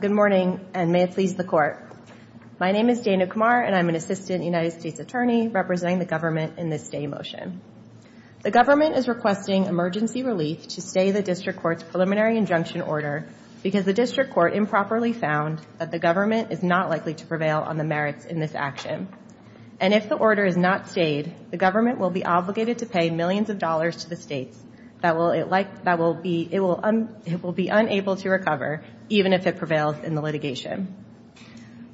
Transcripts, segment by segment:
Good morning, and may it please the Court. My name is Dana Kumar, and I am an Assistant United States Attorney representing the government in this stay motion. The government is requesting emergency relief to stay the District Court's preliminary injunction order because the District Court improperly found that the government is not likely to prevail on the merits in this action. And if the order is not stayed, the government will be obligated to pay millions of dollars to the states that will be unable to recover, even if it prevails in the litigation.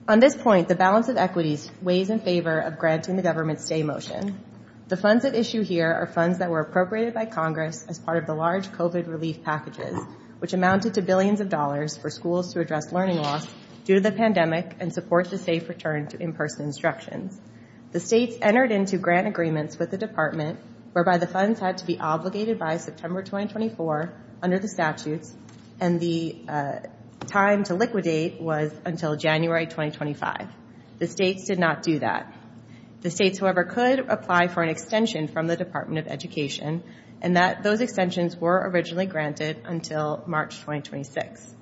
On this point, the balance of equities weighs in favor of granting the government's stay motion. The funds at issue here are funds that were appropriated by Congress as part of the large COVID relief packages, which amounted to billions of dollars for schools to address learning loss due to the pandemic and support the safe return to in-person instructions. The states entered into grant agreements with the Department, whereby the funds had to be until January 2025. The states did not do that. The states, however, could apply for an extension from the Department of Education, and those extensions were originally granted until March 2026.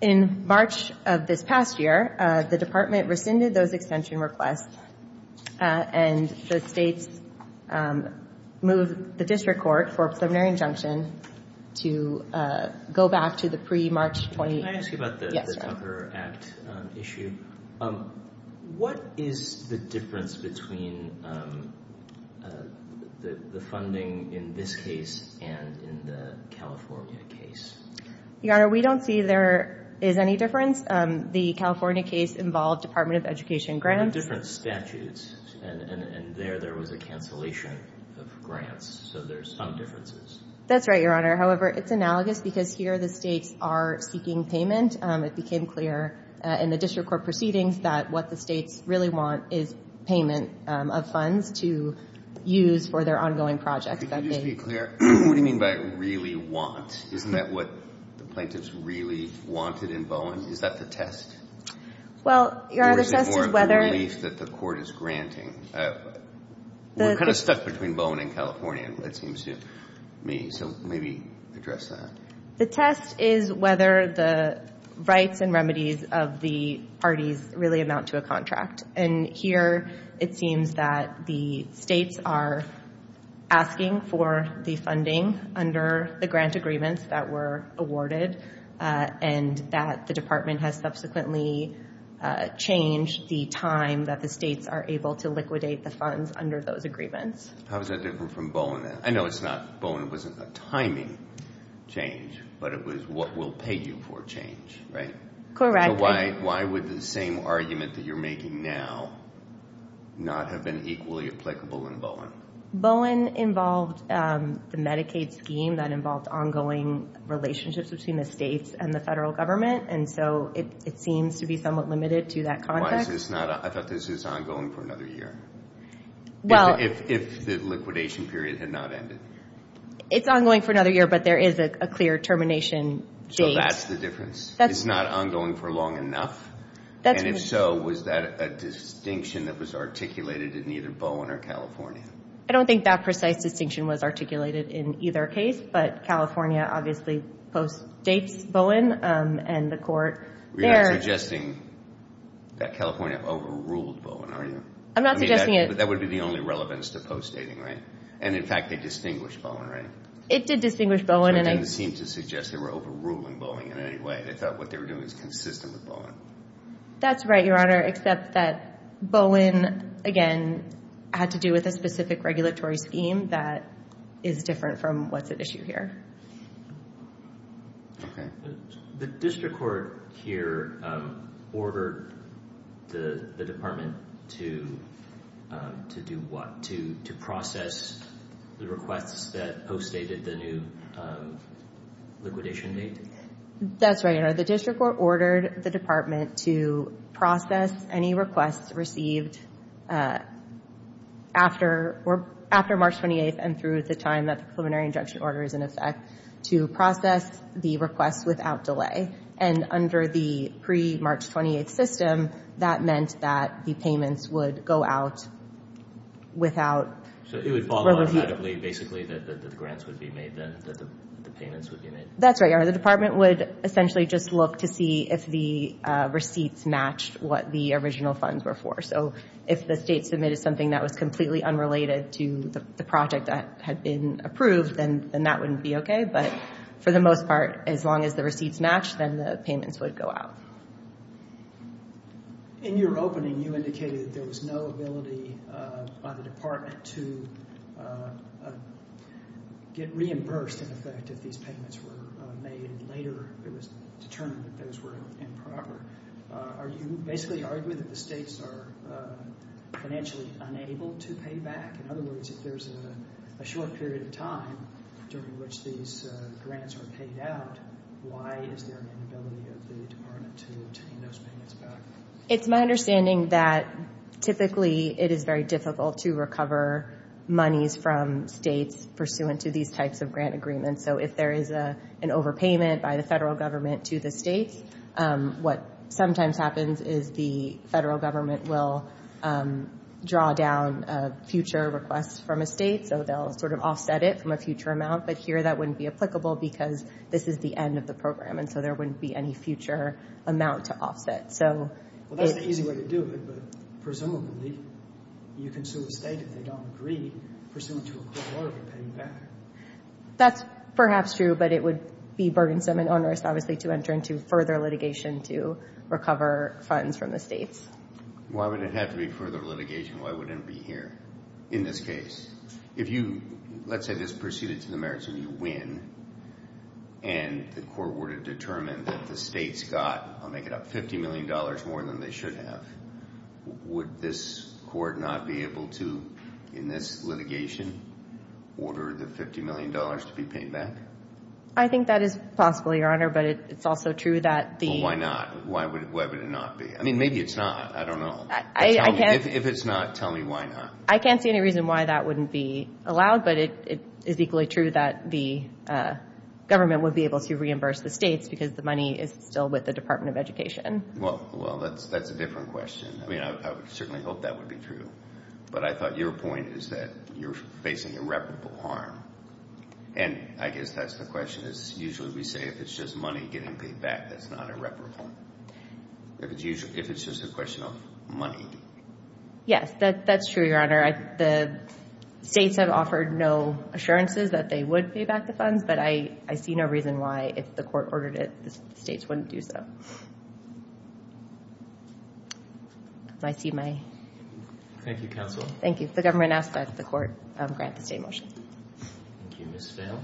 In March of this past year, the Department rescinded those extension requests, and the states moved the District Court for a preliminary injunction to go back to the pre-March 2018 Can I ask you about the Tucker Act issue? What is the difference between the funding in this case and in the California case? Your Honor, we don't see there is any difference. The California case involved Department of Education grants. There were different statutes, and there there was a cancellation of grants. So there's some differences. That's right, Your Honor. However, it's analogous, because here the states are seeking payment. It became clear in the District Court proceedings that what the states really want is payment of funds to use for their ongoing projects. Could you just be clear? What do you mean by really want? Isn't that what the plaintiffs really wanted in Bowen? Is that the test? Well, Your Honor, the test is whether Or is it more a belief that the court is granting? We're kind of stuck between Bowen and California, it seems to me. So maybe address that. The test is whether the rights and remedies of the parties really amount to a contract. And here it seems that the states are asking for the funding under the grant agreements that were awarded and that the Department has subsequently changed the time that the states are able to liquidate the funds under those agreements. How is that different from Bowen? I know Bowen wasn't a timing change, but it was what will pay you for change, right? Correct. So why would the same argument that you're making now not have been equally applicable in Bowen? Bowen involved the Medicaid scheme that involved ongoing relationships between the states and the federal government. And so it seems to be somewhat limited to that context. Why is this not? I thought this was ongoing for another year. If the liquidation period had not ended. It's ongoing for another year, but there is a clear termination date. So that's the difference. It's not ongoing for long enough? And if so, was that a distinction that was articulated in either Bowen or California? I don't think that precise distinction was articulated in either case, but California obviously post-dates Bowen and the court. You're not suggesting that California overruled Bowen, are you? I'm not suggesting it. But that would be the only relevance to post-dating, right? And, in fact, they distinguished Bowen, right? It did distinguish Bowen. So it didn't seem to suggest they were overruling Bowen in any way. They thought what they were doing was consistent with Bowen. That's right, Your Honor, except that Bowen, again, had to do with a specific regulatory scheme that is different from what's at issue here. Okay. The district court here ordered the department to do what? To process the requests that post-dated the new liquidation date? That's right, Your Honor. The district court ordered the department to process any requests received after March 28th and through the time that the preliminary injunction order is in effect to process the requests without delay. And under the pre-March 28th system, that meant that the payments would go out without review. So it would fall automatically, basically, that the grants would be made, that the payments would be made? That's right, Your Honor. The department would essentially just look to see if the receipts matched what the original funds were for. So if the state submitted something that was completely unrelated to the project that had been approved, then that wouldn't be okay. But for the most part, as long as the receipts matched, then the payments would go out. In your opening, you indicated that there was no ability by the department to get reimbursed in effect if these payments were made. Later, it was determined that those were improper. Are you basically arguing that the states are financially unable to pay back? In other words, if there's a short period of time during which these grants are paid out, why is there an inability of the department to obtain those payments back? It's my understanding that typically it is very difficult to recover monies from states pursuant to these types of grant agreements. And so if there is an overpayment by the federal government to the states, what sometimes happens is the federal government will draw down a future request from a state, so they'll sort of offset it from a future amount. But here that wouldn't be applicable because this is the end of the program, and so there wouldn't be any future amount to offset. Well, that's an easy way to do it, but presumably you can sue a state if they don't agree, pursuant to a court order to pay you back. That's perhaps true, but it would be burdensome and onerous, obviously, to enter into further litigation to recover funds from the states. Why would it have to be further litigation? Why wouldn't it be here in this case? If you, let's say, just proceeded to the merits and you win, and the court were to determine that the states got, I'll make it up, $50 million more than they should have, would this court not be able to, in this litigation, order the $50 million to be paid back? I think that is possible, Your Honor, but it's also true that the... Well, why not? Why would it not be? I mean, maybe it's not. I don't know. If it's not, tell me why not. I can't see any reason why that wouldn't be allowed, but it is equally true that the government would be able to reimburse the states because the money is still with the Department of Education. Well, that's a different question. I mean, I would certainly hope that would be true, but I thought your point is that you're facing irreparable harm, and I guess that's the question is usually we say if it's just money getting paid back, that's not irreparable. If it's just a question of money. Yes, that's true, Your Honor. The states have offered no assurances that they would pay back the funds, but I see no reason why, if the court ordered it, the states wouldn't do so. I see my... Thank you, counsel. Thank you. The government asked that the court grant the state a motion. Thank you. Ms. Vail?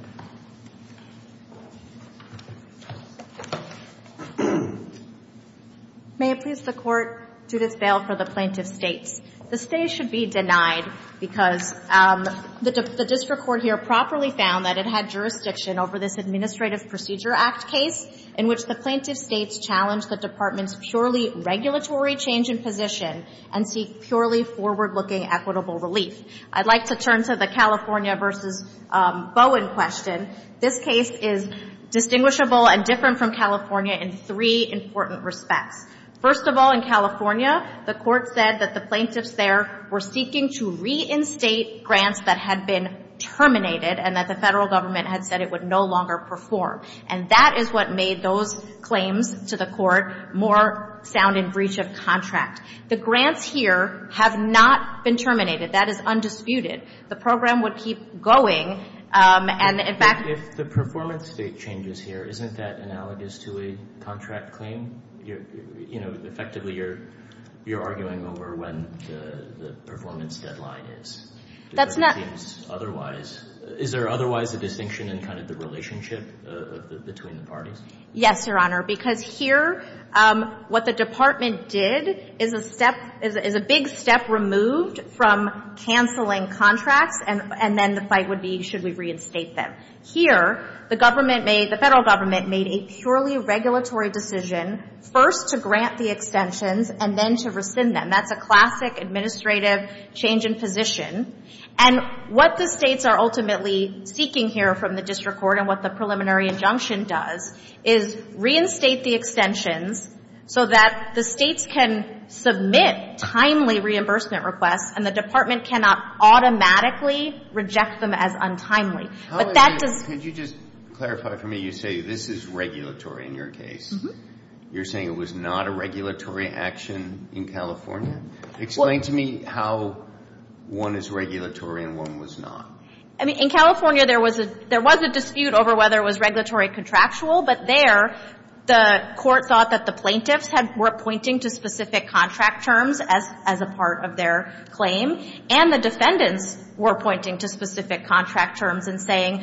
May it please the court, Judith Vail, for the plaintiff's states. The states should be denied because the district court here properly found that it had jurisdiction over this Administrative Procedure Act case in which the plaintiff's states challenged the department's purely regulatory change in position and seek purely forward-looking equitable relief. I'd like to turn to the California versus Bowen question. This case is distinguishable and different from California in three important respects. First of all, in California, the court said that the plaintiffs there were seeking to reinstate grants that had been terminated and that the federal government had said it would no longer perform, and that is what made those claims to the court more sound in breach of contract. The grants here have not been terminated. That is undisputed. The program would keep going, and in fact... If the performance date changes here, isn't that analogous to a contract claim? You know, effectively, you're arguing over when the performance deadline is. That's not... Is there otherwise a distinction in kind of the relationship between the parties? Yes, Your Honor, because here what the department did is a big step removed from canceling contracts, and then the fight would be should we reinstate them. Here, the federal government made a purely regulatory decision, first to grant the extensions and then to rescind them. That's a classic administrative change in position. And what the states are ultimately seeking here from the district court and what the preliminary injunction does is reinstate the extensions so that the states can submit timely reimbursement requests and the department cannot automatically reject them as untimely. But that does... Could you just clarify for me? You say this is regulatory in your case. You're saying it was not a regulatory action in California? Explain to me how one is regulatory and one was not. I mean, in California, there was a dispute over whether it was regulatory contractual, but there the court thought that the plaintiffs were pointing to specific contract terms as a part of their claim, and the defendants were pointing to specific contract terms and saying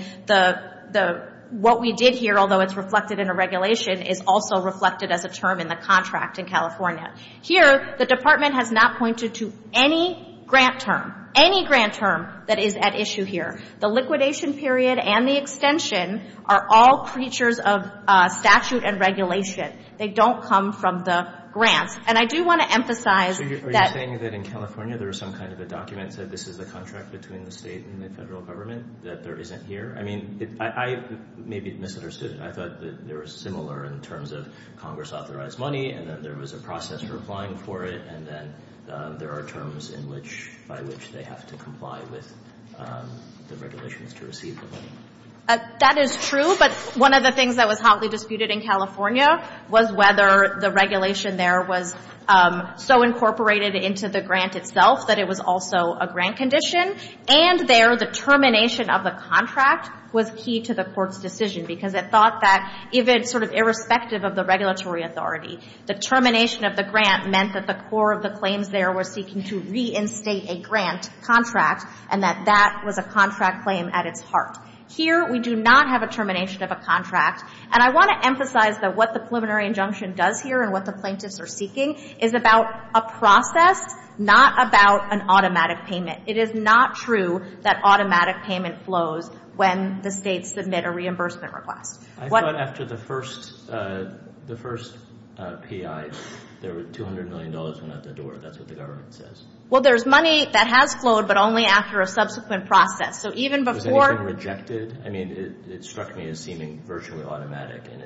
what we did here, although it's reflected in a regulation, is also reflected as a term in the contract in California. Here, the department has not pointed to any grant term. Any grant term that is at issue here. The liquidation period and the extension are all creatures of statute and regulation. They don't come from the grants. And I do want to emphasize that... Are you saying that in California there was some kind of a document that said this is a contract between the state and the federal government that there isn't here? I mean, I may be misunderstood. I thought that they were similar in terms of Congress-authorized money and that there was a process for applying for it and that there are terms by which they have to comply with the regulations to receive the money. That is true, but one of the things that was hotly disputed in California was whether the regulation there was so incorporated into the grant itself that it was also a grant condition, and there the termination of the contract was key to the court's decision because it thought that if it's sort of irrespective of the regulatory authority, the termination of the grant meant that the core of the claims there were seeking to reinstate a grant contract and that that was a contract claim at its heart. Here, we do not have a termination of a contract, and I want to emphasize that what the preliminary injunction does here and what the plaintiffs are seeking is about a process, not about an automatic payment. It is not true that automatic payment flows when the states submit a reimbursement request. I thought after the first PI, there were $200 million at the door. That's what the government says. Well, there's money that has flowed, but only after a subsequent process. So even before... Was anything rejected? I mean, it struck me as seeming virtually automatic, and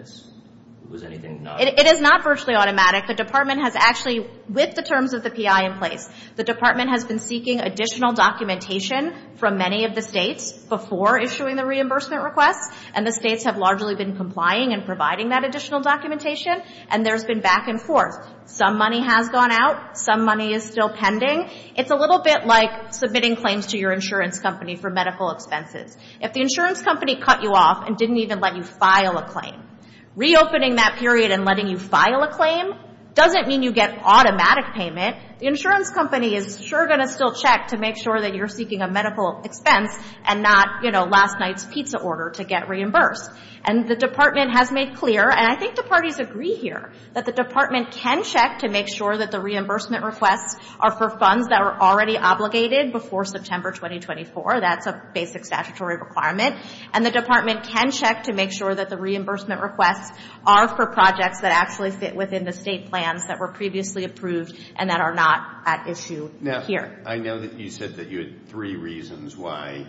was anything not? It is not virtually automatic. The Department has actually, with the terms of the PI in place, the Department has been seeking additional documentation from many of the states before issuing the reimbursement request, and the states have largely been complying and providing that additional documentation, and there's been back and forth. Some money has gone out. Some money is still pending. It's a little bit like submitting claims to your insurance company for medical expenses. If the insurance company cut you off and didn't even let you file a claim, reopening that period and letting you file a claim doesn't mean you get automatic payment. The insurance company is sure going to still check to make sure that you're seeking a medical expense and not last night's pizza order to get reimbursed. And the Department has made clear, and I think the parties agree here, that the Department can check to make sure that the reimbursement requests are for funds that were already obligated before September 2024. That's a basic statutory requirement. And the Department can check to make sure that the reimbursement requests are for projects that actually fit within the state plans that were previously approved and that are not at issue here. Now, I know that you said that you had three reasons why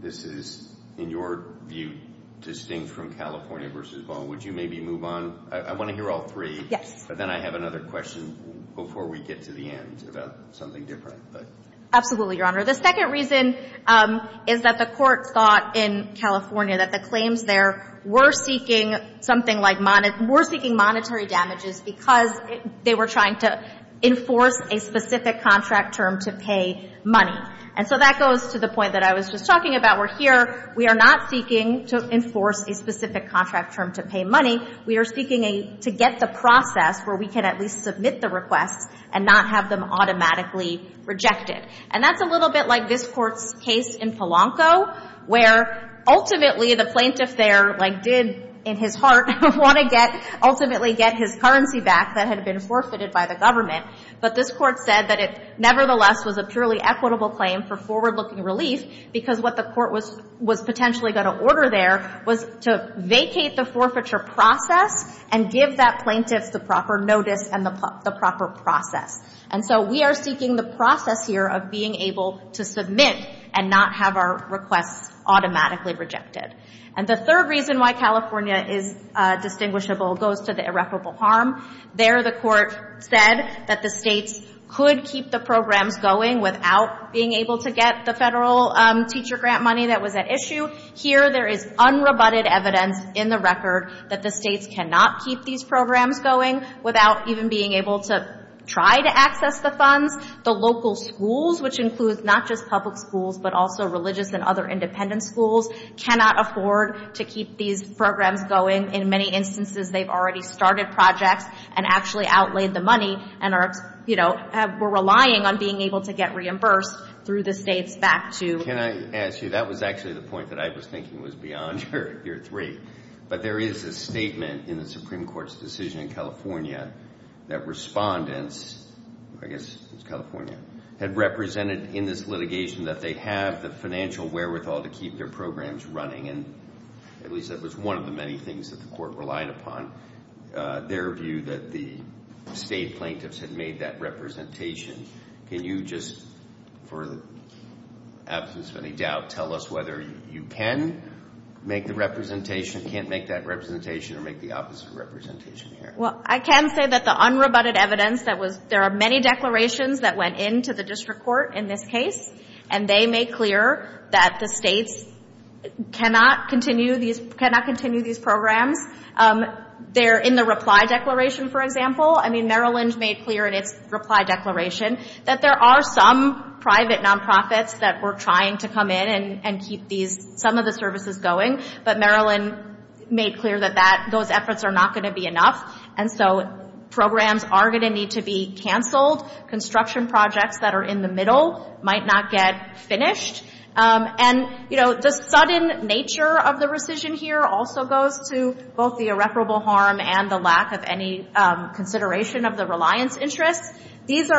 this is, in your view, distinct from California v. Ball. Would you maybe move on? I want to hear all three. Yes. But then I have another question before we get to the end about something different. Absolutely, Your Honor. The second reason is that the court thought in California that the claims there were seeking something like monetary damages because they were trying to enforce a specific contract term to pay money. And so that goes to the point that I was just talking about. We're here. We are not seeking to enforce a specific contract term to pay money. We are seeking to get the process where we can at least submit the requests and not have them automatically rejected. And that's a little bit like this Court's case in Polanco where ultimately the plaintiff there, like did in his heart, wanted to ultimately get his currency back that had been forfeited by the government. But this Court said that it nevertheless was a purely equitable claim for forward-looking relief because what the Court was potentially going to order there was to vacate the forfeiture process and give that plaintiff the proper notice and the proper process. And so we are seeking the process here of being able to submit and not have our requests automatically rejected. And the third reason why California is distinguishable goes to the irreparable harm. There the Court said that the states could keep the programs going without being able to get the federal teacher grant money that was at issue. Here there is unrebutted evidence in the record that the states cannot keep these programs going without even being able to try to access the funds. The local schools, which includes not just public schools but also religious and other independent schools, cannot afford to keep these programs going. In many instances they've already started projects and actually outlaid the money and are relying on being able to get reimbursed through the states back to... Can I ask you, that was actually the point that I was thinking was beyond your three. But there is a statement in the Supreme Court's decision in California that respondents, I guess it was California, had represented in this litigation that they have the financial wherewithal to keep their programs running. And at least that was one of the many things that the Court relied upon, their view that the state plaintiffs had made that representation. Can you just, for the absence of any doubt, tell us whether you can make the representation, can't make that representation, or make the opposite representation here? Well, I can say that the unrebutted evidence that was... There are many declarations that went into the district court in this case, and they made clear that the states cannot continue these programs. They're in the reply declaration, for example. I mean, Maryland made clear in its reply declaration that there are some private nonprofits that were trying to come in and keep some of the services going. But Maryland made clear that those efforts are not going to be enough. And so programs are going to need to be canceled. Construction projects that are in the middle might not get finished. And, you know, the sudden nature of the rescission here also goes to both the irreparable harm and the lack of any consideration of the reliance interests. Can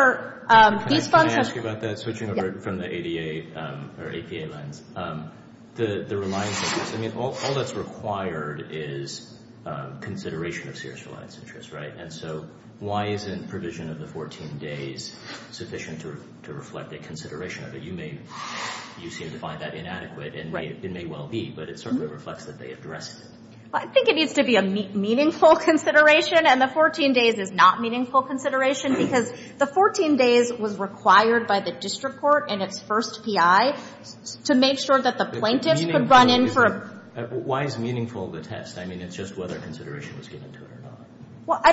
I ask you about that, switching over from the ADA or APA lens? The reliance interests, I mean, all that's required is consideration of serious reliance interests, right? And so why isn't provision of the 14 days sufficient to reflect a consideration of it? You seem to find that inadequate, and it may well be, but it certainly reflects that they addressed it. I think it needs to be a meaningful consideration, and the 14 days is not a meaningful consideration because the 14 days was required by the district court in its first PI to make sure that the plaintiffs could run in for a... Why is meaningful the test? I mean, it's just whether consideration was given to it or not. Well, I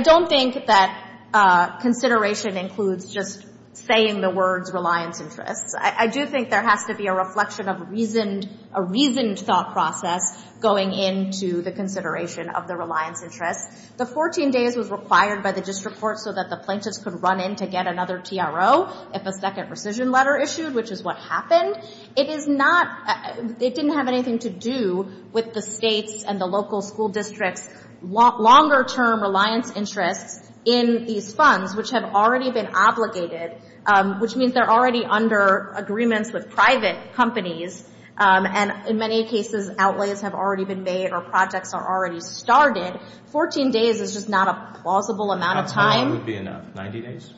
don't think that consideration includes just saying the words reliance interests. I do think there has to be a reflection of a reasoned thought process going into the consideration of the reliance interests. The 14 days was required by the district court so that the plaintiffs could run in to get another TRO if a second rescission letter issued, which is what happened. It is not... It didn't have anything to do with the state's and the local school district's longer-term reliance interests in these funds, which have already been obligated, which means they're already under agreements with private companies, and in many cases, outlays have already been made or projects are already started. Fourteen days is just not a plausible amount of time. How far away would be enough? 90 days?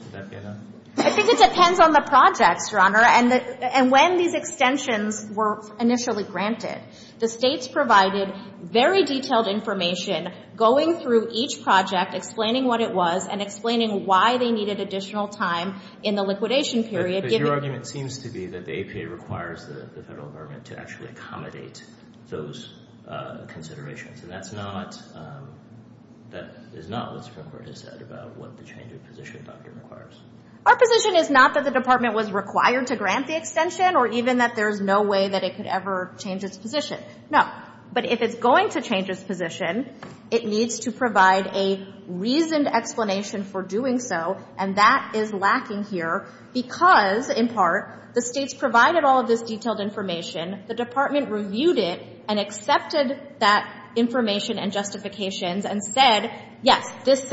I think it depends on the projects, Your Honor, and when these extensions were initially granted. The states provided very detailed information going through each project, explaining what it was and explaining why they needed additional time in the liquidation period. But your argument seems to be that the APA requires the federal government to actually accommodate those considerations, and that's not... That is not what the Supreme Court has said about what the change of position document requires. Our position is not that the department was required to grant the extension or even that there's no way that it could ever change its position. No. But if it's going to change its position, it needs to provide a reasoned explanation for doing so, and that is lacking here because, in part, the states provided all of this detailed information, the department reviewed it and accepted that information and justifications and said, yes, this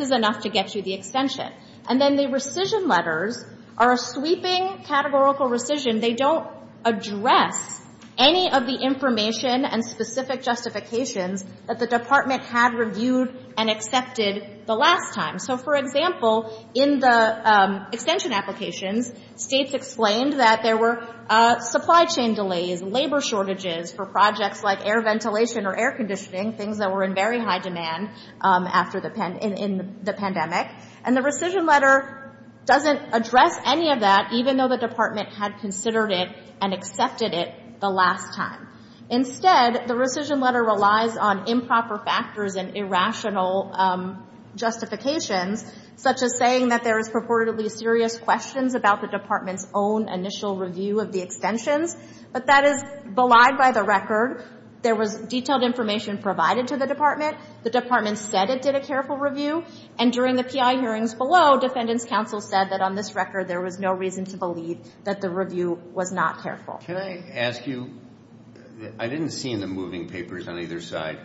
is enough to get you the extension. And then the rescission letters are a sweeping categorical rescission. They don't address any of the information and specific justifications that the department had reviewed and accepted the last time. So, for example, in the extension applications, states explained that there were supply chain delays, labor shortages for projects like air ventilation or air conditioning, things that were in very high demand in the pandemic. And the rescission letter doesn't address any of that, even though the department had considered it and accepted it the last time. Instead, the rescission letter relies on improper factors and irrational justifications, such as saying that there is purportedly serious questions about the department's own initial review of the extensions. But that is belied by the record. There was detailed information provided to the department. The department said it did a careful review. And during the PI hearings below, defendants counsel said that on this record there was no reason to believe that the review was not careful. Can I ask you? I didn't see in the moving papers on either side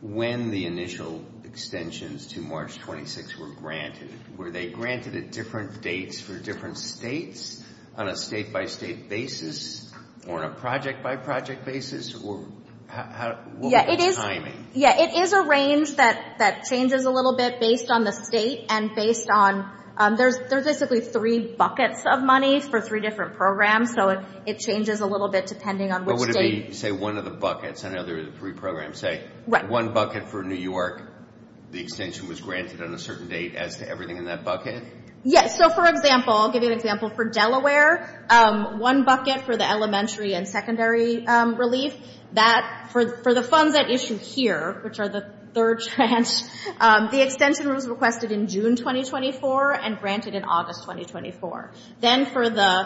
when the initial extensions to March 26 were granted. Were they granted at different dates for different states, on a state-by-state basis, or on a project-by-project basis? Or what was the timing? Yeah, it is a range that changes a little bit based on the state and based on there's basically three buckets of money for three different programs. So it changes a little bit depending on which state. But would it be, say, one of the buckets and the other three programs, say, one bucket for New York, the extension was granted on a certain date as to everything in that bucket? Yes. So, for example, I'll give you an example. For Delaware, one bucket for the elementary and secondary relief. For the funds at issue here, which are the third tranche, the extension was requested in June 2024 and granted in August 2024. Then for the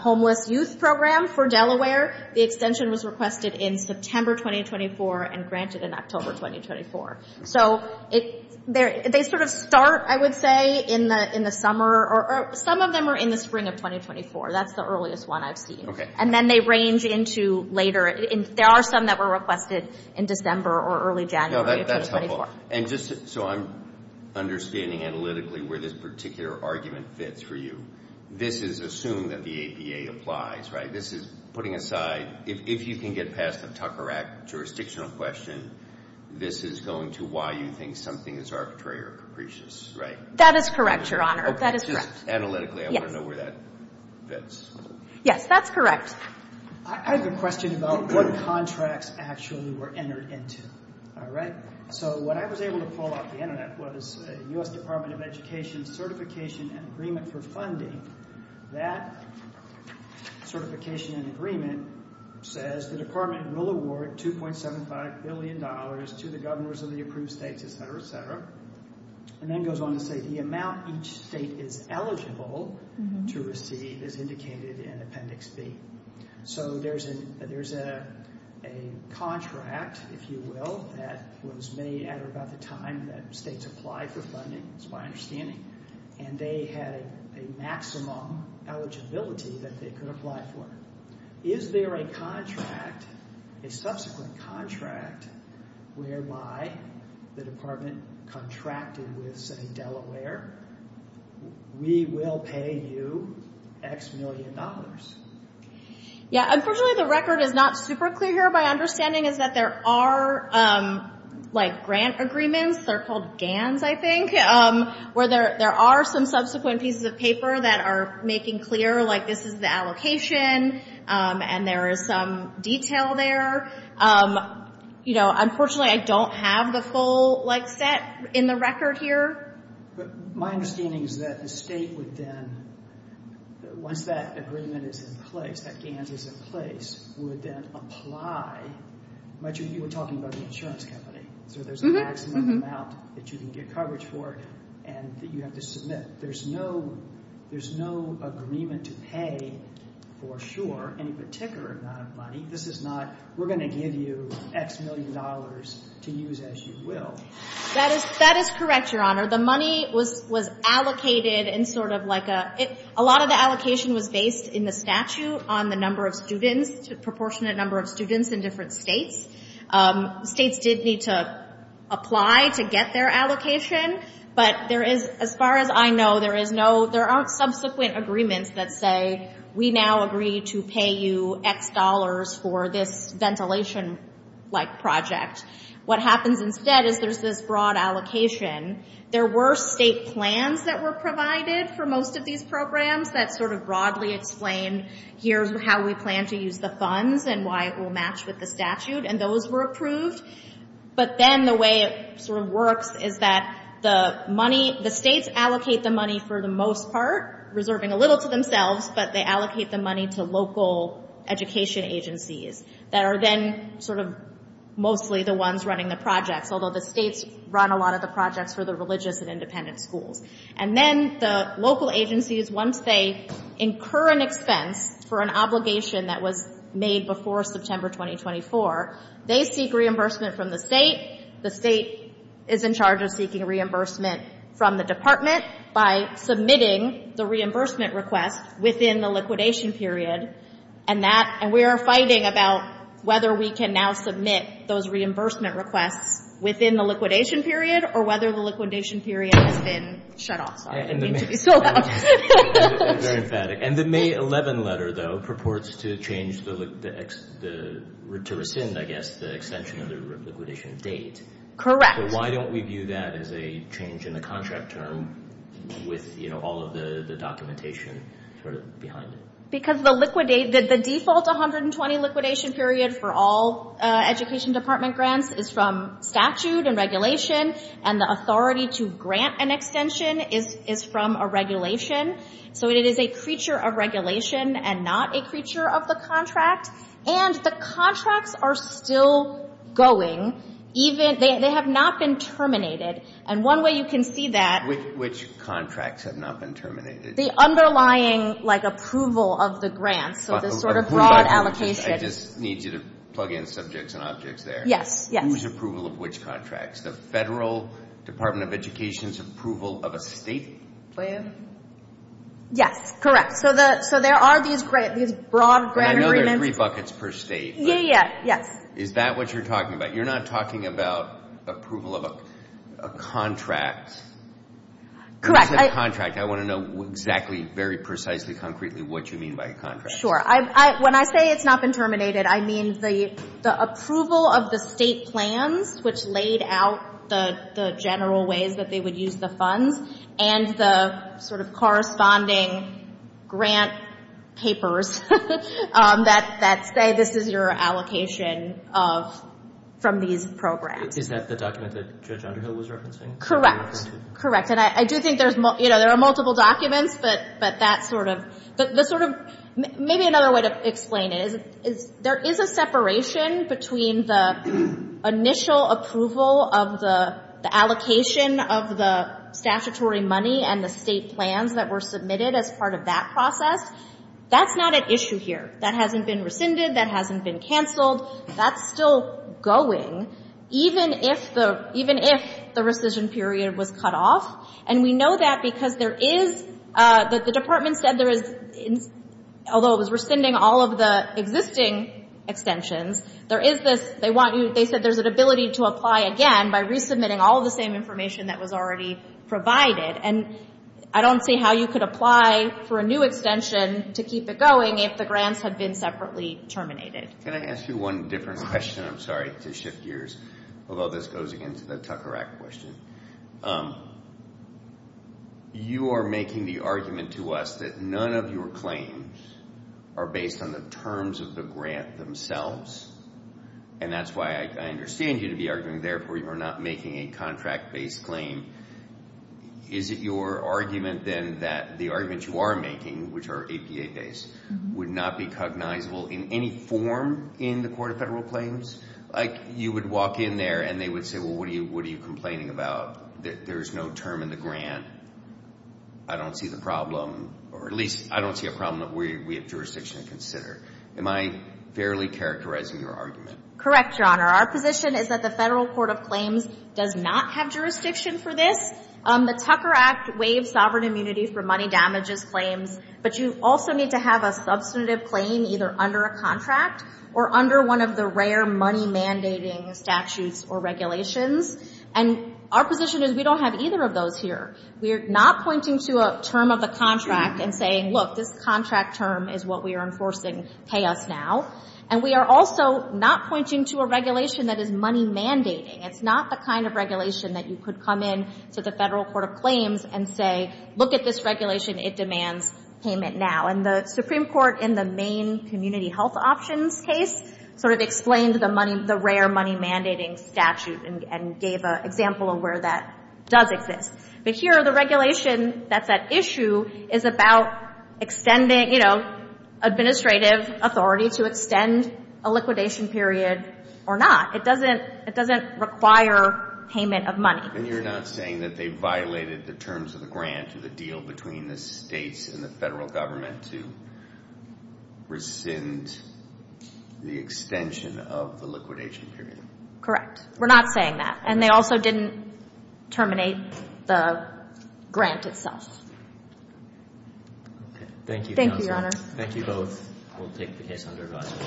homeless youth program for Delaware, the extension was requested in September 2024 and granted in October 2024. So they sort of start, I would say, in the summer. Some of them are in the spring of 2024. That's the earliest one I've seen. And then they range into later. There are some that were requested in December or early January of 2024. That's helpful. And just so I'm understanding analytically where this particular argument fits for you, this is assumed that the APA applies, right? This is putting aside, if you can get past the Tucker Act jurisdictional question, this is going to why you think something is arbitrary or capricious, right? That is correct, Your Honor. That is correct. Just analytically, I want to know where that fits. Yes, that's correct. I have a question about what contracts actually were entered into, all right? So what I was able to pull off the Internet was the U.S. Department of Education Certification and Agreement for Funding. That certification and agreement says the department will award $2.75 billion to the governors of the approved states, et cetera, et cetera, and then goes on to say the amount each state is eligible to receive is indicated in Appendix B. So there's a contract, if you will, that was made at or about the time that states applied for funding, it's my understanding, and they had a maximum eligibility that they could apply for. Is there a contract, a subsequent contract, whereby the department contracted with, say, Delaware, we will pay you X million dollars? Yeah, unfortunately, the record is not super clear here. My understanding is that there are grant agreements, they're called GANs, I think, where there are some subsequent pieces of paper that are making clear, like, this is the allocation, and there is some detail there. Unfortunately, I don't have the full set in the record here. My understanding is that the state would then, once that agreement is in place, that GANs is in place, would then apply. You were talking about the insurance company, so there's a maximum amount that you can get coverage for and that you have to submit. There's no agreement to pay for sure any particular amount of money. This is not, we're going to give you X million dollars to use as you will. That is correct, Your Honor. The money was allocated in sort of like a, a lot of the allocation was based in the statute on the number of students, the proportionate number of students in different states. States did need to apply to get their allocation, but there is, as far as I know, there is no, there aren't subsequent agreements that say, we now agree to pay you X dollars for this ventilation-like project. What happens instead is there's this broad allocation. There were state plans that were provided for most of these programs that sort of broadly explained, here's how we plan to use the funds and why it will match with the statute, and those were approved. But then the way it sort of works is that the money, the states allocate the money for the most part, reserving a little to themselves, but they allocate the money to local education agencies that are then sort of mostly the ones running the projects, although the states run a lot of the projects for the religious and independent schools. And then the local agencies, once they incur an expense for an obligation that was made before September 2024, they seek reimbursement from the state. The state is in charge of seeking reimbursement from the department by submitting the reimbursement request within the liquidation period, and we are fighting about whether we can now submit those reimbursement requests within the liquidation period or whether the liquidation period has been shut off. Sorry, I need to be so loud. I'm very emphatic. And the May 11 letter, though, purports to change the, to rescind, I guess, the extension of the liquidation date. Correct. But why don't we view that as a change in the contract term with all of the documentation sort of behind it? Because the default 120 liquidation period for all education department grants is from statute and regulation, and the authority to grant an extension is from a regulation. So it is a creature of regulation and not a creature of the contract. And the contracts are still going. They have not been terminated. And one way you can see that... Which contracts have not been terminated? The underlying, like, approval of the grants, so this sort of broad allocation. I just need you to plug in subjects and objects there. Yes, yes. Who's approval of which contracts? The Federal Department of Education's approval of a state grant? Yes, correct. So there are these broad grant agreements. And I know there are three buckets per state. Yeah, yeah, yes. Is that what you're talking about? You're not talking about approval of a contract? Correct. When I say a contract, I want to know exactly, very precisely, concretely what you mean by a contract. Sure. When I say it's not been terminated, I mean the approval of the state plans which laid out the general ways that they would use the funds and the sort of corresponding grant papers that say this is your allocation from these programs. Is that the document that Judge Underhill was referencing? Correct, correct. And I do think there are multiple documents, but maybe another way to explain it is there is a separation between the initial approval of the allocation of the statutory money and the state plans that were submitted as part of that process. That's not at issue here. That hasn't been rescinded. That hasn't been canceled. That's still going. Even if the rescission period was cut off. And we know that because there is, the department said there is, although it was rescinding all of the existing extensions, there is this, they want you, they said there's an ability to apply again by resubmitting all the same information that was already provided. And I don't see how you could apply for a new extension to keep it going if the grants had been separately terminated. Can I ask you one different question? I'm sorry to shift gears, although this goes again to the Tucker Act question. You are making the argument to us that none of your claims are based on the terms of the grant themselves, and that's why I understand you to be arguing therefore you are not making a contract-based claim. Is it your argument then that the argument you are making, which are APA-based, would not be cognizable in any form in the Court of Federal Claims? Like you would walk in there and they would say, well what are you complaining about? There's no term in the grant. I don't see the problem. Or at least I don't see a problem that we have jurisdiction to consider. Am I fairly characterizing your argument? Correct, Your Honor. Our position is that the Federal Court of Claims does not have jurisdiction for this. The Tucker Act waives sovereign immunity for money damages claims, but you also need to have a substantive claim either under a contract or under one of the rare money-mandating statutes or regulations. And our position is we don't have either of those here. We are not pointing to a term of a contract and saying, look, this contract term is what we are enforcing, pay us now. And we are also not pointing to a regulation that is money-mandating. It's not the kind of regulation that you could come in to the Federal Court of And the Supreme Court in the Maine Community Health Options case sort of explained the rare money-mandating statute and gave an example of where that does exist. But here the regulation that's at issue is about extending, you know, administrative authority to extend a liquidation period or not. It doesn't require payment of money. And you're not saying that they violated the terms of the grant to the deal between the states and the Federal Government to rescind the extension of the liquidation period. Correct. We're not saying that. And they also didn't terminate the grant itself. Thank you, counsel. Thank you, Your Honor. Thank you both. We'll take the case under review.